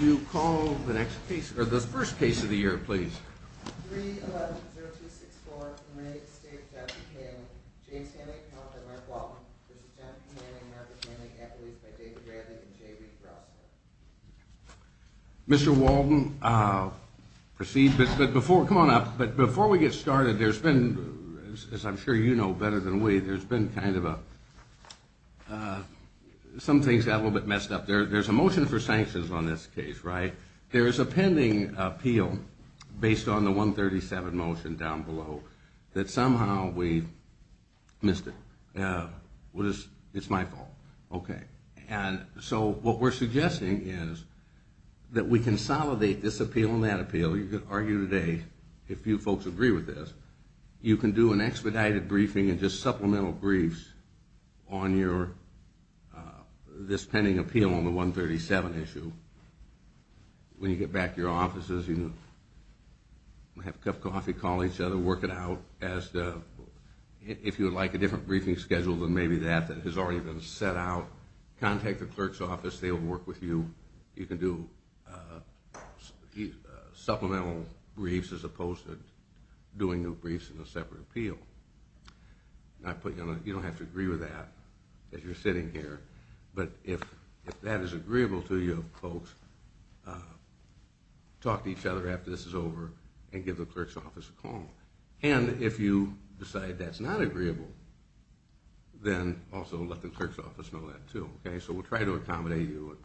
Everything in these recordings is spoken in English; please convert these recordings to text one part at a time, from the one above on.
you call the next piece or the first piece of the year please mr. Walden proceed but before come on up but before we get started there's been as I'm sure you know better than we there's been kind of a some things got a little bit messed up there there's a motion for sanctions on this case right there is a pending appeal based on the 137 motion down below that somehow we missed it yeah what is it's my fault okay and so what we're suggesting is that we consolidate this appeal in that appeal you could argue today if you folks agree with this you can do an expedited briefing and just supplemental briefs on your this pending appeal on the 137 issue when you get back to your offices you have a cup of coffee call each other work it out as if you would like a different briefing schedule than maybe that that has already been set out contact the clerk's office they'll work with you you can do supplemental briefs as opposed to doing new briefs in a separate appeal not put you know you don't have to agree with that that you're sitting here but if that is agreeable to you folks talk to each other after this is over and give the clerk's office a call and if you decide that's not agreeable then also let the clerk's office know that too okay so we'll try to accommodate you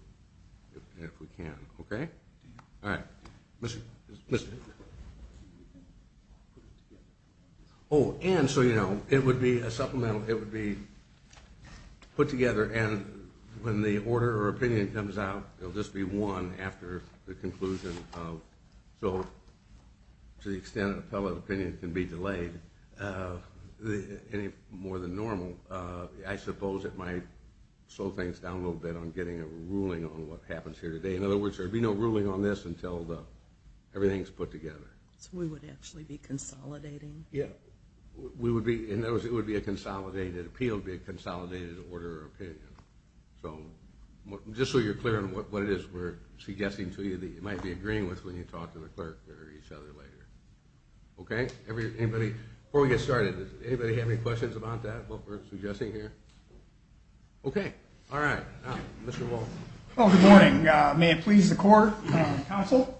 if we can okay all right oh and so you know it would be a supplemental it would be put together and when the order or opinion comes out it'll just be one after the conclusion so to the extent of the pellet opinion can be delayed any more than normal I suppose it might slow things down a little bit on getting a there'd be no ruling on this until the everything's put together we would actually be consolidating yeah we would be in those it would be a consolidated appeal be a consolidated order opinion so just so you're clear on what it is we're suggesting to you that you might be agreeing with when you talk to the clerk or each other later okay everybody before we get started anybody have any questions about that what we're suggesting here okay all right oh good morning may it please the court counsel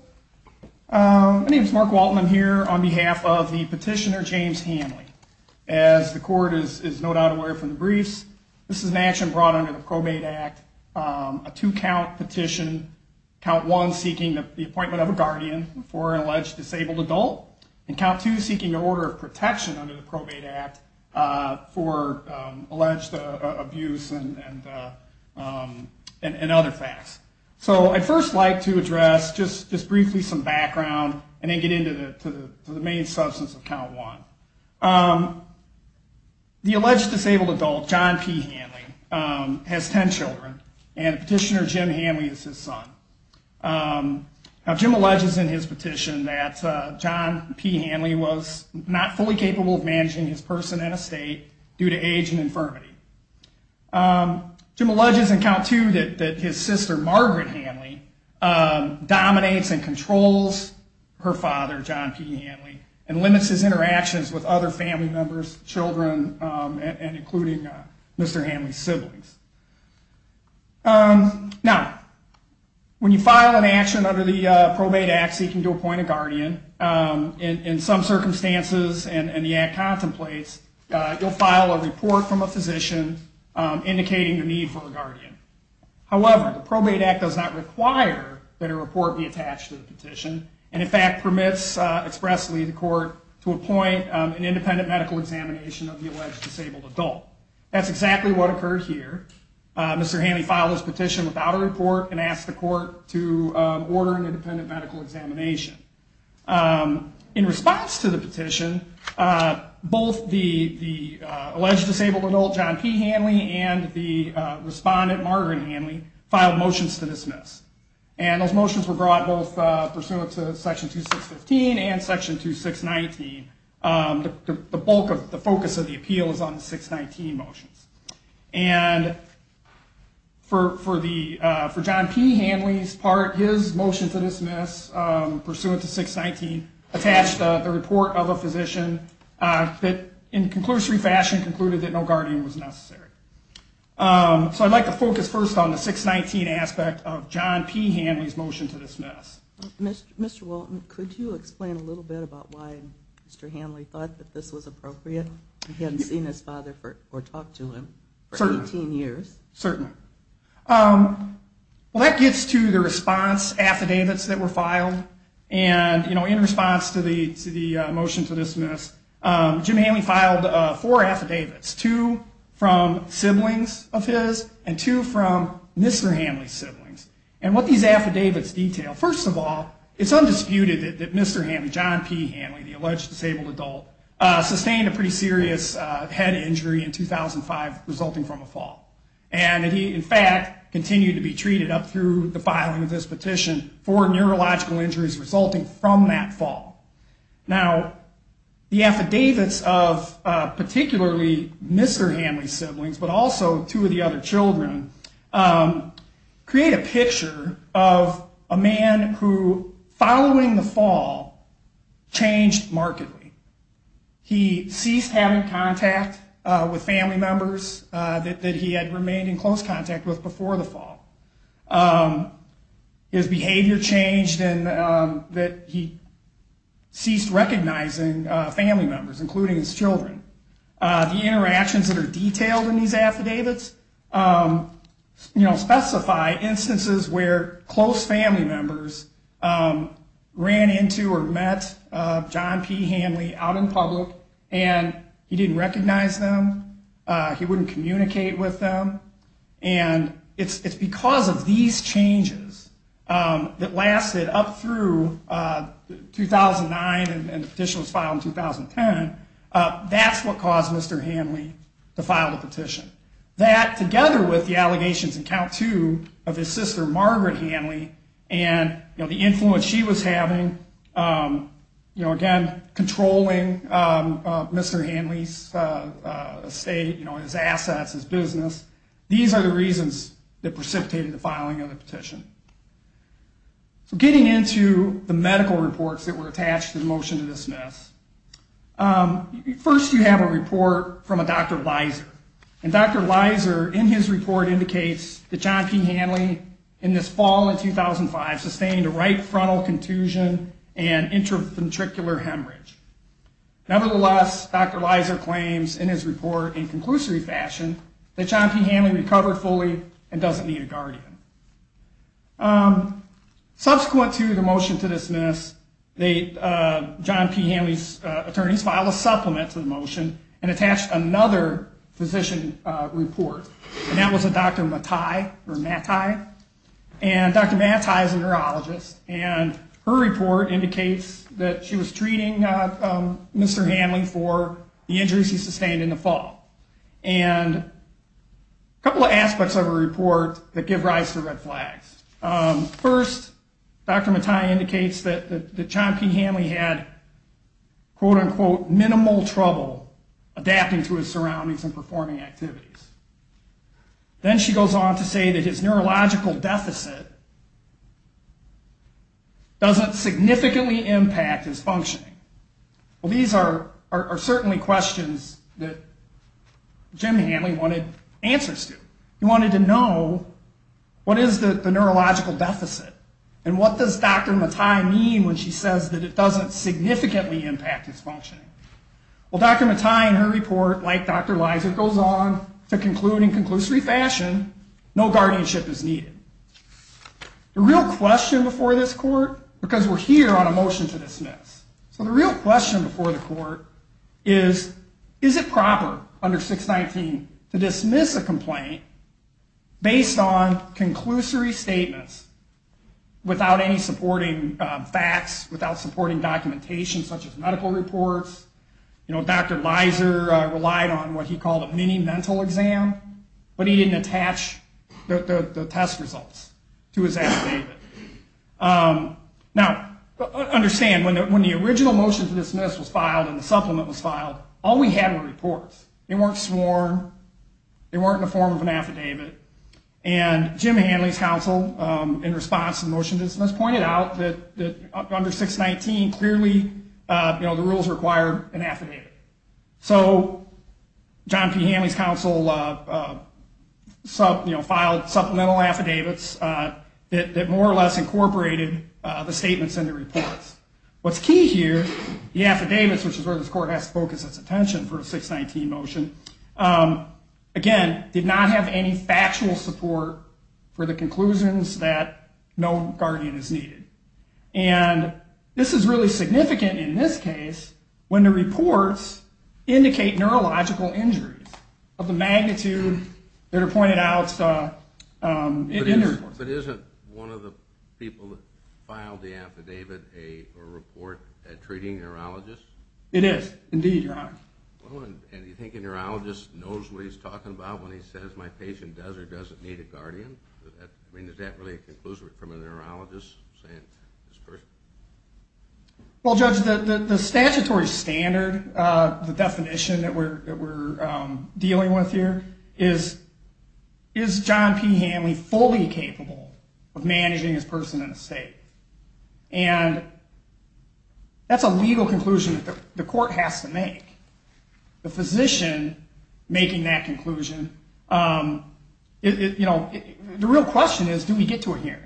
my name is Mark Walton I'm here on behalf of the petitioner James Hanley as the court is no doubt aware from the briefs this is an action brought under the probate act a two count petition count one seeking the appointment of a guardian before an alleged disabled adult and count two seeking your order of protection under the probate act for alleged abuse and and other facts so I first like to address just just briefly some background and then get into the main substance of count one the alleged disabled adult John P Hanley has ten children and petitioner Jim Hanley is his son Jim alleges in his petition that John P Hanley was not fully capable of Jim alleges in count two that his sister Margaret Hanley dominates and controls her father John P Hanley and limits his interactions with other family members children and including mr. Hanley siblings now when you file an action under the probate act seeking to appoint a guardian in some circumstances and the act contemplates you'll file a report from a physician indicating the need for a guardian however the probate act does not require that a report be attached to the petition and in fact permits expressly the court to appoint an independent medical examination of the alleged disabled adult that's exactly what occurred here mr. Hanley follows petition without a report and asked the court to order an independent medical examination in response to the petition both the the alleged disabled adult John P Hanley and the respondent Margaret Hanley filed motions to dismiss and those motions were brought both pursuant to section 2 615 and section 2 619 the bulk of the focus of the appeal is on the 619 motions and for for the for John P Hanley's part his motion to 619 attached the report of a physician that in conclusory fashion concluded that no guardian was necessary so I'd like to focus first on the 619 aspect of John P Hanley's motion to dismiss mr. Walton could you explain a little bit about why mr. Hanley thought that this was appropriate he hadn't seen his father or talked to him for 18 years certainly well that gets to the response affidavits that were filed and you know in response to the to the motion to dismiss Jim Hanley filed four affidavits two from siblings of his and two from mr. Hanley siblings and what these affidavits detail first of all it's undisputed that mr. Hanley John P Hanley the alleged disabled adult sustained a pretty serious head injury in 2005 resulting from a fall and he in fact continued to be treated up through the filing of this petition for neurological injuries resulting from that fall now the affidavits of particularly mr. Hanley siblings but also two of the other children create a picture of a man who following the fall changed markedly he ceased having contact with family members that he had remained in close contact with before the fall his behavior changed and that he ceased recognizing family members including his children the interactions that are detailed in these affidavits you know specify instances where close family members ran into or met John P Hanley out in public and he didn't recognize them he wouldn't communicate with them and it's because of these changes that lasted up through 2009 and the petition was filed in 2010 that's what caused mr. Hanley to file the petition that together with the allegations and count to of his sister Margaret Hanley and you controlling mr. Hanley's state you know his assets his business these are the reasons that precipitated the filing of the petition so getting into the medical reports that were attached in motion to dismiss first you have a report from a doctor Liza and dr. Liza in his report indicates that John P Hanley in this frontal contusion and interventricular hemorrhage nevertheless dr. Liza claims in his report in conclusive fashion that John P Hanley recovered fully and doesn't need a guardian subsequent to the motion to dismiss the John P Hanley's attorneys file a supplement to the motion and attached another physician report and that was a doctor Matai and dr. Matai is a neurologist and her report indicates that she was treating mr. Hanley for the injuries he sustained in the fall and a couple of aspects of a report that give rise to the red flags first dr. Matai indicates that the John P Hanley had quote-unquote minimal trouble adapting to his surroundings and performing activities then she goes on to say that his neurological deficit doesn't significantly impact his functioning well these are are certainly questions that Jim Hanley wanted answers to you wanted to know what is the neurological deficit and what does dr. Matai mean when she says that it doesn't significantly impact his functioning well dr. Matai in her report like dr. Liza goes on to conclude in conclusory fashion no guardianship is needed the real question before this court because we're here on a motion to dismiss so the real question before the court is is it proper under 619 to dismiss a complaint based on conclusory statements without any supporting facts without supporting documentation such as medical reports you know dr. Liza relied on what he called a mini mental exam but he didn't attach the test results to his now understand when the original motion to dismiss was filed in the supplement was filed all we had were reports they weren't sworn they weren't in the form of an affidavit and Jim Hanley's counsel in response to the motion to dismiss pointed out that under 619 clearly you know the rules require an affidavit so John P Hanley's counsel sub you know filed supplemental affidavits that more or less incorporated the statements in the reports what's key here the affidavits which is where this court has to focus its attention for a 619 motion again did not have any factual support for the conclusions that no guardian is needed and this is really significant in this case when the reports indicate neurological injuries of the magnitude that are pointed out but isn't one of the people that filed the affidavit a report at treating neurologist it is indeed you're on and you think a neurologist knows what he's talking about when he says my patient desert doesn't need a guardian I mean is that really a conclusion from a well judge the statutory standard the definition that we're dealing with here is is John P Hanley fully capable of managing his person in the state and that's a legal conclusion that the court has to make the physician making that conclusion you know the real question is do we get to a hearing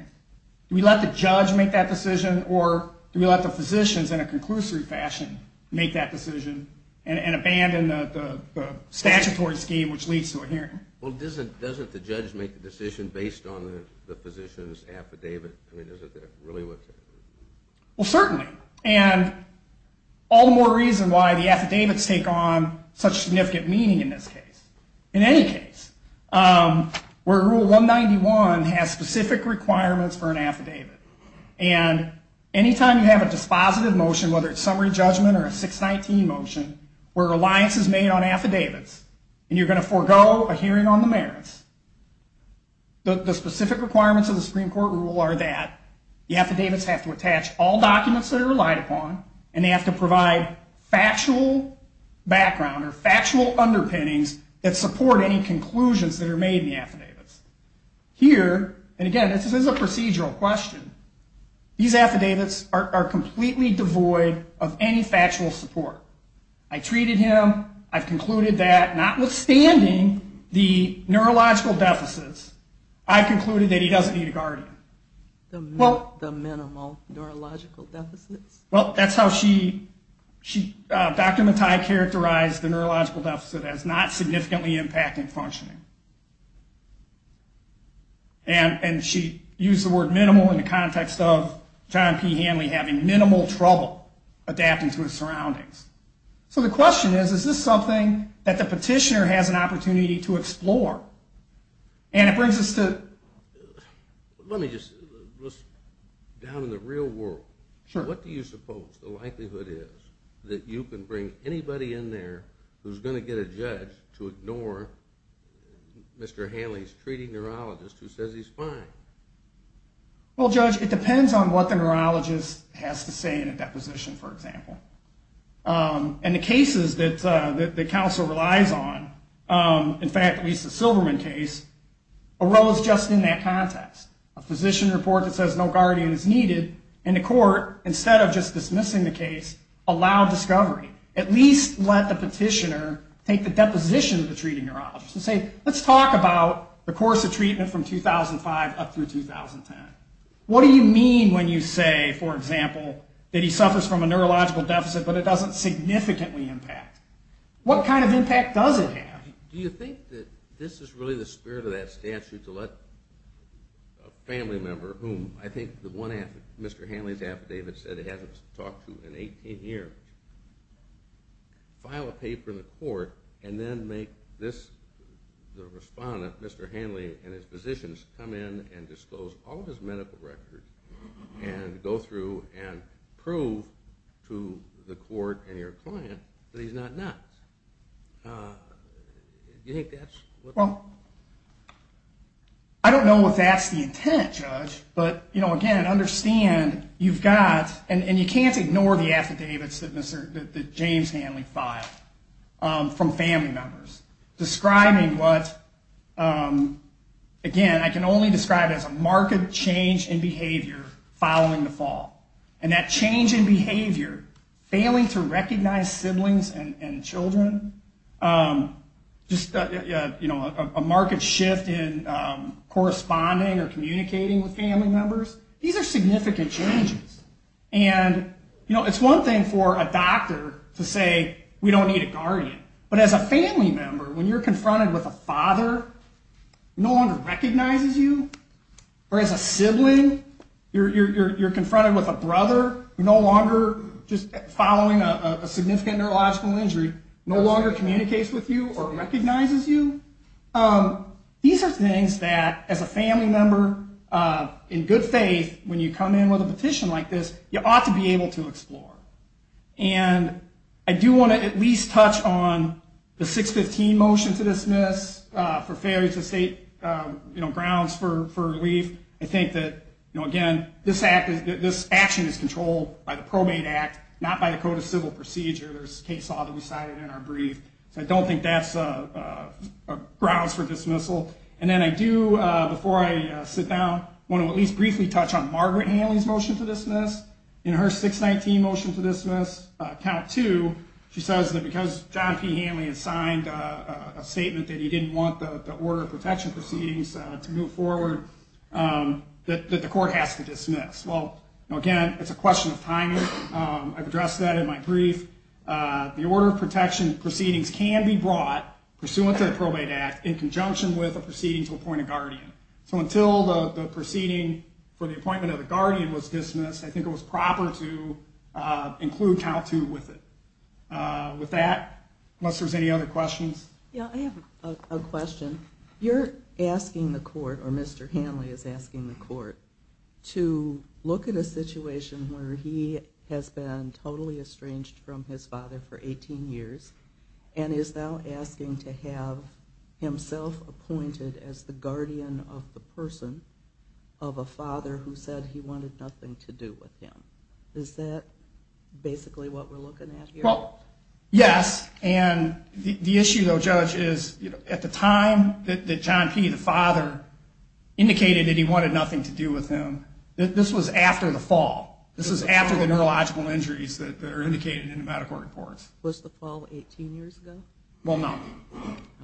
we let the judge make that decision or do we let the physicians in a conclusive fashion make that decision and abandon the statutory scheme which leads to a hearing well doesn't doesn't the judge make the decision based on the physician's affidavit well certainly and all the more reason why the affidavits take on such significant meaning in this case in any case where rule 191 has specific requirements for an affidavit and anytime you have a dispositive motion whether it's summary judgment or a 619 motion where reliance is made on affidavits and you're going to forego a hearing on the merits the specific requirements of the Supreme Court rule are that the affidavits have to attach all documents that are relied upon and they have to provide factual background or factual underpinnings that support any conclusions that are made in the procedural question these affidavits are completely devoid of any factual support I treated him I've concluded that notwithstanding the neurological deficits I concluded that he doesn't need a guardian well that's how she she dr. Matai characterized the neurological deficit as not significantly impacting functioning and and she used the word minimal in the context of John P Hanley having minimal trouble adapting to his surroundings so the question is is this something that the petitioner has an opportunity to explore and it brings us to let me just down in the real world sure what do you suppose the likelihood is that you can bring anybody in there who's going to get a judge to Mr. Hanley's treating neurologist who says he's fine well judge it depends on what the neurologist has to say in a deposition for example and the cases that the council relies on in fact at least the Silverman case arose just in that context a physician report that says no guardian is needed in the court instead of just dismissing the case allow discovery at least let the treating neurologist and say let's talk about the course of treatment from 2005 up through 2010 what do you mean when you say for example that he suffers from a neurological deficit but it doesn't significantly impact what kind of impact does it have do you think that this is really the spirit of that statute to let a family member whom I think the one after mr. Hanley's affidavit said it talked to an 18-year file a paper in the court and then make this the respondent mr. Hanley and his physicians come in and disclose all his medical records and go through and prove to the court and your client but he's not not well I don't know what that's the intent judge but you know again understand you've got and you can't ignore the affidavits that mr. James Hanley filed from family members describing what again I can only describe as a market change in behavior following the fall and that change in behavior failing to recognize siblings and children just you know a market shift in corresponding or and you know it's one thing for a doctor to say we don't need a guardian but as a family member when you're confronted with a father no longer recognizes you or as a sibling you're confronted with a brother no longer just following a significant neurological injury no longer communicates with you or recognizes you these are things that as a family member in good faith when you come in with a petition like this you ought to be able to explore and I do want to at least touch on the 615 motion to dismiss for failure to state you know grounds for relief I think that you know again this act is this action is controlled by the probate act not by the code of civil procedure there's case law that we cited in our brief so I don't think that's a grounds for dismissal and then I do before I sit down want to at least briefly touch on Margaret Hanley's motion to dismiss in her 619 motion to dismiss count to she says that because John P Hanley has signed a statement that he didn't want the order of protection proceedings to move forward that the court has to dismiss well again it's a question of timing I've addressed that in my brief the order of protection proceedings can be brought pursuant to the probate act in conjunction with a proceeding to appoint a guardian so until the proceeding for the appointment of the guardian was dismissed I think it was proper to include count to with it with that unless there's any other questions yeah I have a question you're asking the court or mr. Hanley is asking the court to look at a situation where he has been totally estranged from his father for 18 years and is now asking to have himself appointed as the guardian of the person of a father who said he wanted nothing to do with him is that basically what we're looking at well yes and the issue though judge is at the time that John P the father indicated that he wanted nothing to do with him this was after the fall this is after the neurological injuries that are indicated in the medical reports was the fall 18 years ago well no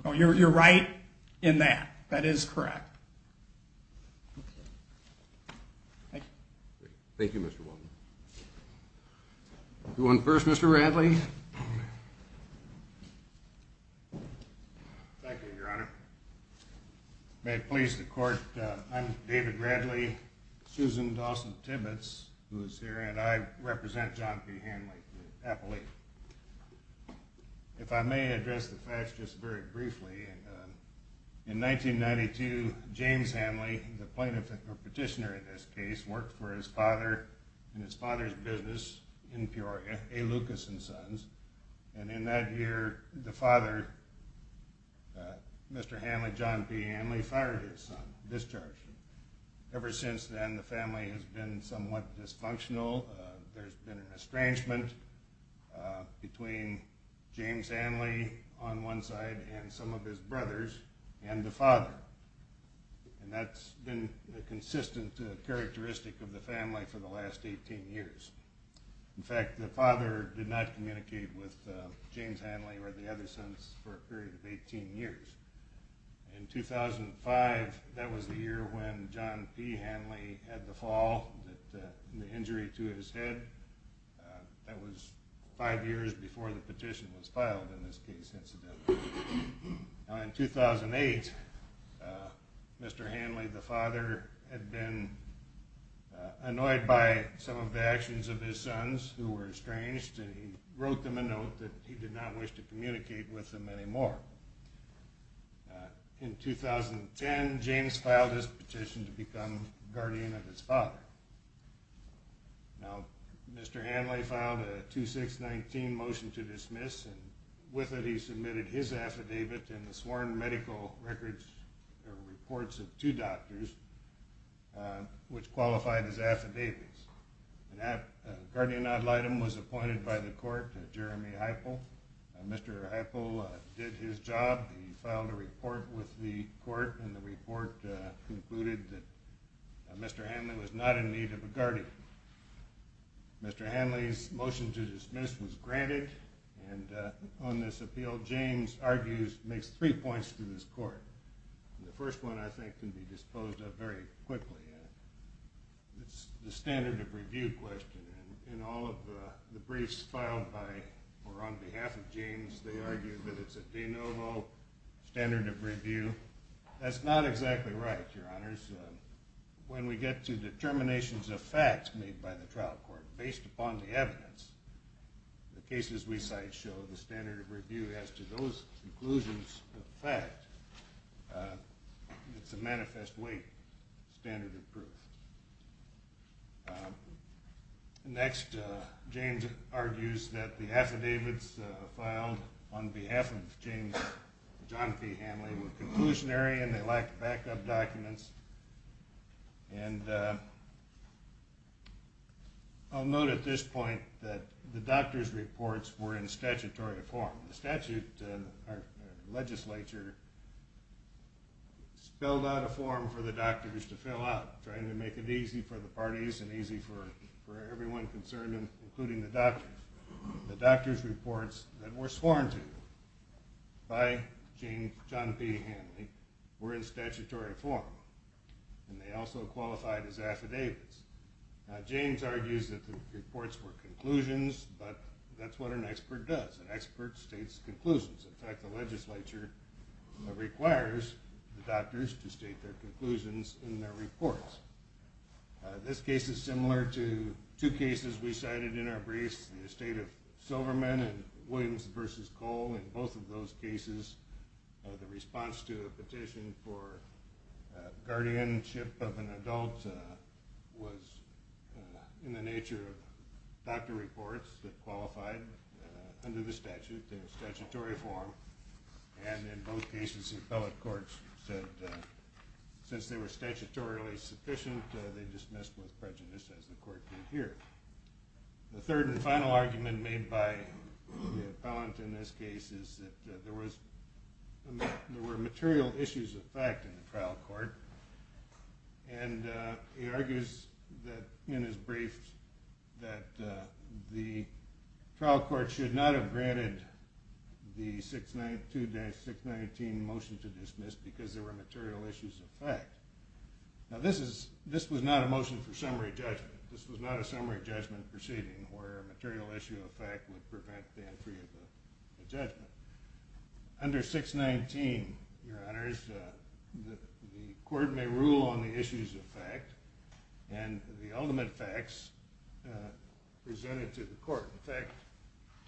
no you're right in that that is correct thank you mr. Walden one first mr. Radley may it please the court I'm David Bradley Susan Dawson Tibbetts who is here and I represent John P Hanley the appellee if I may address the facts just very briefly in 1992 James Hanley the plaintiff or petitioner in this case worked for his father in his father's business in Peoria a Lucas and sons and in that year the father mr. Hanley John P Hanley fired his son discharged ever since then the family has been somewhat dysfunctional there's been an James Hanley on one side and some of his brothers and the father and that's been a consistent characteristic of the family for the last 18 years in fact the father did not communicate with James Hanley or the other sons for a period of 18 years in 2005 that was the year when John P Hanley had the fall the injury to his head that was five years before the petition was filed in this case incident in 2008 mr. Hanley the father had been annoyed by some of the actions of his sons who were estranged and he wrote them a note that he did not wish to communicate with them anymore in 2010 James filed his petition to become guardian of his father now mr. Hanley found a 2619 motion to dismiss and with it he submitted his affidavit in the sworn medical records or reports of two doctors which qualified as affidavits and that guardian ad litem was appointed by the court Jeremy Hypo mr. Hypo did his job he filed a report with the court and the report concluded that mr. Hanley was not in need of a guardian mr. Hanley's motion to dismiss was granted and on this appeal James argues makes three points to this court the first one I think can be disposed of very quickly it's the standard of review question in all of the briefs filed by or on behalf of James they argued that it's a de novo standard of review that's not exactly right your honors when we get to determinations of fact made by the trial court based upon the evidence the cases we cite show the standard of review as to those conclusions of fact it's a manifest weight standard of proof next James argues that the affidavits filed on behalf of James John P Hanley were conclusionary and they lack backup documents and I'll note at this point that the doctor's reports were in statutory form the statute our legislature spelled out a form for the doctors to fill out trying to make it easy for the parties and easy for everyone concerned including the doctors the doctor's reports that were sworn to by James John P Hanley were in statutory form and they also qualified as affidavits James argues that the reports were conclusions but that's what an expert does an expert states conclusions in fact the legislature requires the doctors to state their this case is similar to two cases we cited in our briefs the estate of Silverman and Williams versus Cole in both of those cases the response to a petition for guardianship of an adult was in the nature of doctor reports that qualified under the statute in statutory form and in both cases the appellate since they were statutorily sufficient they dismissed with prejudice as the court did here the third and final argument made by the appellant in this case is that there was there were material issues of fact in the trial court and he argues that in his briefs that the trial court should not have dismissed because there were material issues of fact now this is this was not a motion for summary judgment this was not a summary judgment proceeding where material issue of fact would prevent the entry of the judgment under 619 your honors the court may rule on the issues of fact and the ultimate facts presented to the court effect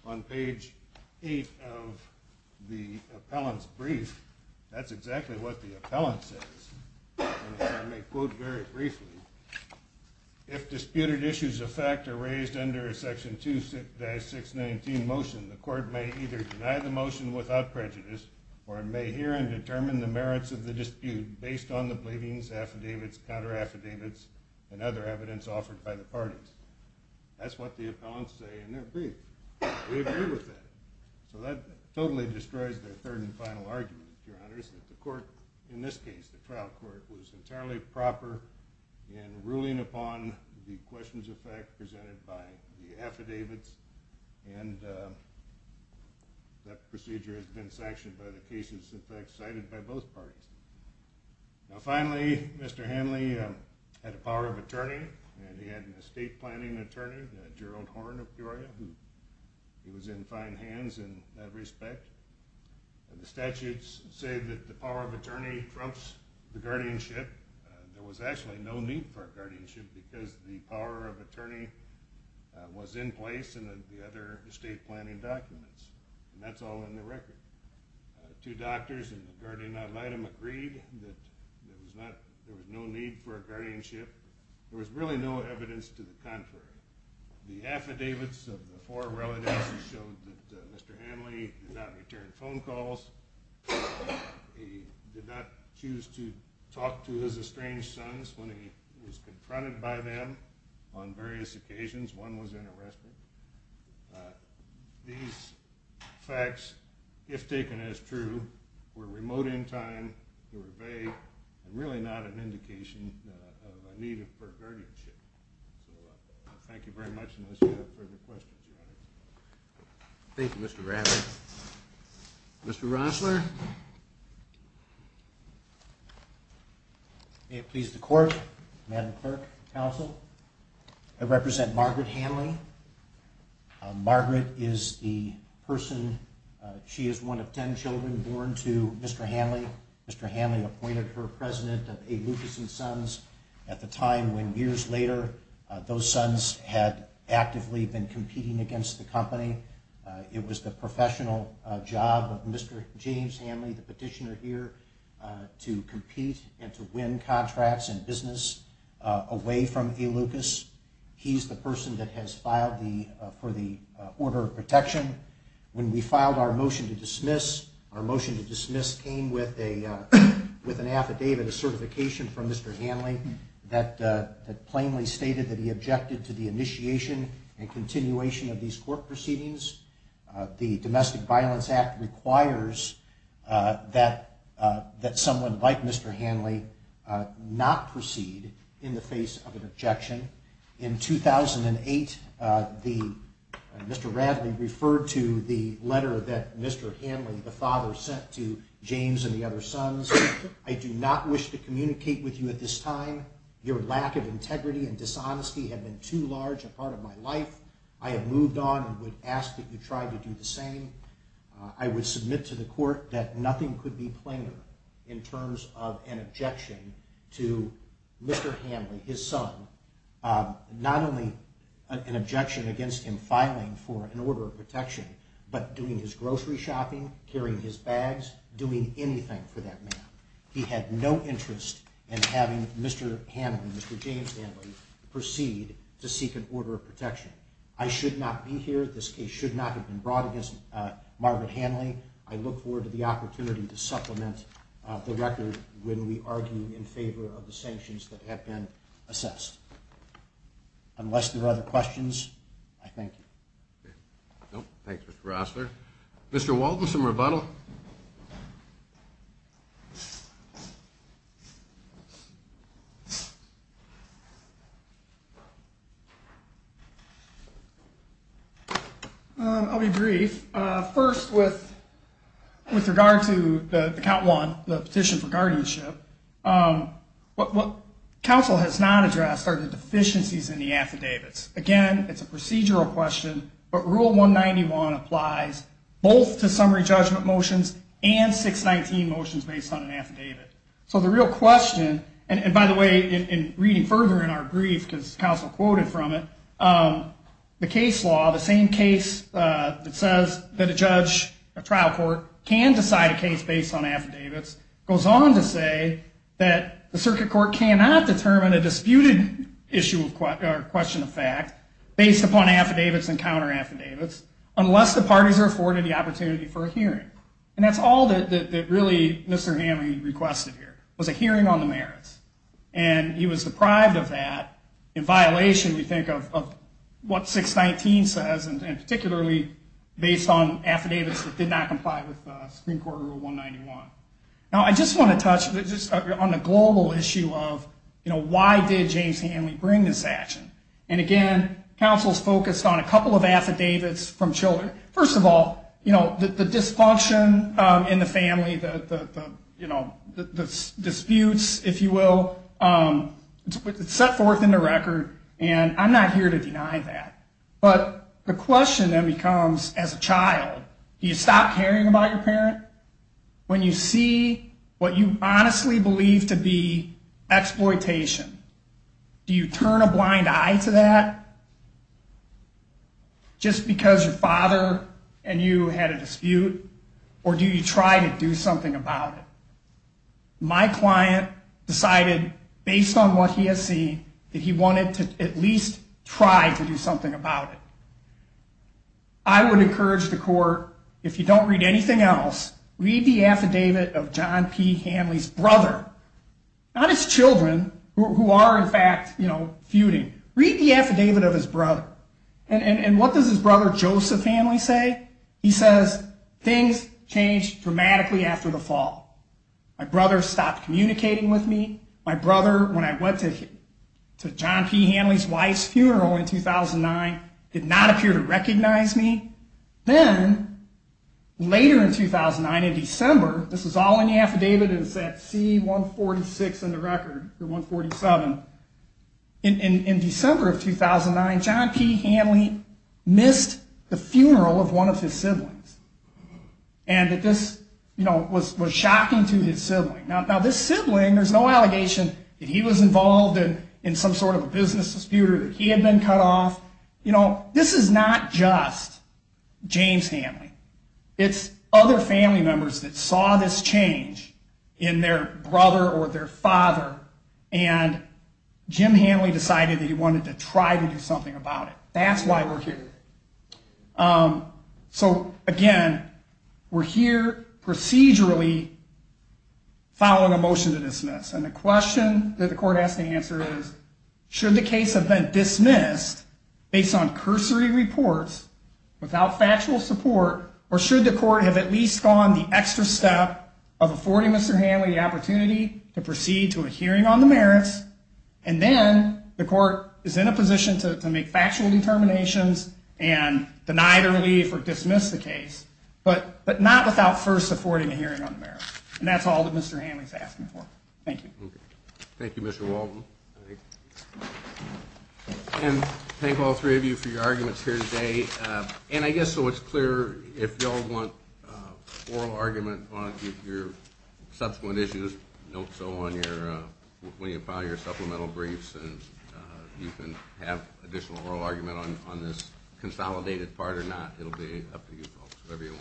on page 8 of the appellants brief that's exactly what the appellants is if disputed issues of fact are raised under a section 2 6-6 19 motion the court may either deny the motion without prejudice or may hear and determine the merits of the dispute based on the believings affidavits counter affidavits and other evidence offered by the parties that's what the appellants say in their brief we agree with that so that totally destroys their third and final argument your honors that the court in this case the trial court was entirely proper in ruling upon the questions of fact presented by the affidavits and that procedure has been sanctioned by the cases in fact cited by both parties now finally mr. Hanley had a power of attorney and he had an estate planning attorney that Gerald Horne of Peoria he was in fine hands in that respect and the statutes say that the power of attorney trumps the guardianship there was actually no need for a guardianship because the power of attorney was in place and the other estate planning documents and that's all in the record two doctors and the guardian ad litem agreed that there was not there was no need for a guardianship there was really no evidence to the contrary the affidavits of the four relatives showed that mr. Hanley did not return phone calls he did not choose to talk to his estranged sons when he was confronted by them on various occasions one was interested these facts if taken as true were remote in time to obey and really not an indication of a need for guardianship thank you very much thank you mr. Rafferty mr. Rosler it pleased the court madam clerk counsel I represent Margaret Hanley Margaret is the person she is one of ten children born to mr. Hanley mr. Hanley appointed her president of a Lucas and sons at the time when years later those sons had actively been competing against the company it was the professional job of mr. James Hanley the petitioner here to compete and to win contracts and business away from a Lucas he's the person that has filed the for the order of protection when we filed our motion to dismiss our motion to dismiss came with a with an affidavit of certification from mr. Hanley that plainly stated that he objected to the initiation and continuation of these court proceedings the Domestic Violence Act requires that that someone like mr. Hanley not proceed in the face of an objection in 2008 the mr. Rafferty referred to the letter that mr. Hanley the father sent to James and the other sons I do not wish to communicate with you at this time your lack of integrity and dishonesty have been too large a part of my life I have moved on and would ask that you try to do the same I would submit to the court that nothing could be plainer in terms of an objection to mr. Hanley his son not only an objection against him filing for an order of protection but doing his grocery shopping carrying his bags doing anything for that man he had no interest in having mr. Hanley mr. James Hanley proceed to seek an order of protection I should not be here this case should not have been brought against Margaret Hanley I look forward to the opportunity to supplement the record when we argue in favor of the sanctions that have been assessed unless there are other questions I think mr. Walton some rebuttal I'll be brief first with with regard to the count one the petition for guardianship what council has not addressed are the deficiencies in the it's again it's a procedural question but rule 191 applies both to summary judgment motions and 619 motions based on an affidavit so the real question and by the way in reading further in our brief because counsel quoted from it the case law the same case that says that a judge a trial court can decide a case based on affidavits goes on to say that the circuit court cannot determine a based upon affidavits and counter affidavits unless the parties are afforded the opportunity for a hearing and that's all that really mr. Hanley requested here was a hearing on the merits and he was deprived of that in violation you think of what 619 says and particularly based on affidavits that did not comply with Supreme Court rule 191 now I just want to touch just on a global issue of you know why did James Hanley bring this action and again counsel's focused on a couple of affidavits from children first of all you know the dysfunction in the family the you know the disputes if you will set forth in the record and I'm not here to deny that but the question that becomes as a child you stop caring about your parent when you see what you honestly believe to be exploitation do you turn a blind eye to that just because your father and you had a dispute or do you try to do something about it my client decided based on what he has seen that he wanted to at least try to do something about it I would encourage the court if you don't read anything else read the affidavit of John P Hanley's brother not his children who are in fact you know feuding read the affidavit of his brother and and what does his brother Joseph Hanley say he says things changed dramatically after the fall my brother stopped communicating with me my brother when I went to John P Hanley's wife's funeral in 2009 did not appear to recognize me then later in 2009 in December this is all in the affidavit is that c146 in the record the 147 in December of 2009 John P Hanley missed the funeral of one of his siblings and that this you know was was shocking to his sibling now this sibling there's no allegation that he was involved in in some sort of a it's other family members that saw this change in their brother or their father and Jim Hanley decided that he wanted to try to do something about it that's why we're here so again we're here procedurally following a motion to dismiss and the question that the court has to answer is should the case have been dismissed based on cursory reports without factual support or should the court have at least gone the extra step of affording Mr. Hanley the opportunity to proceed to a hearing on the merits and then the court is in a position to make factual determinations and deny the relief or dismiss the case but but not without first affording a hearing on the merits and that's all that Mr. Hanley's for thank you thank you mr. Walton and thank all three of you for your arguments here today and I guess so it's clear if y'all want oral argument on your subsequent issues note so on your when you find your supplemental briefs and you can have additional oral argument on this consolidated part or it'll be up to you folks whatever you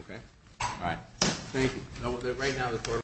okay all right thank you know what that right now that's where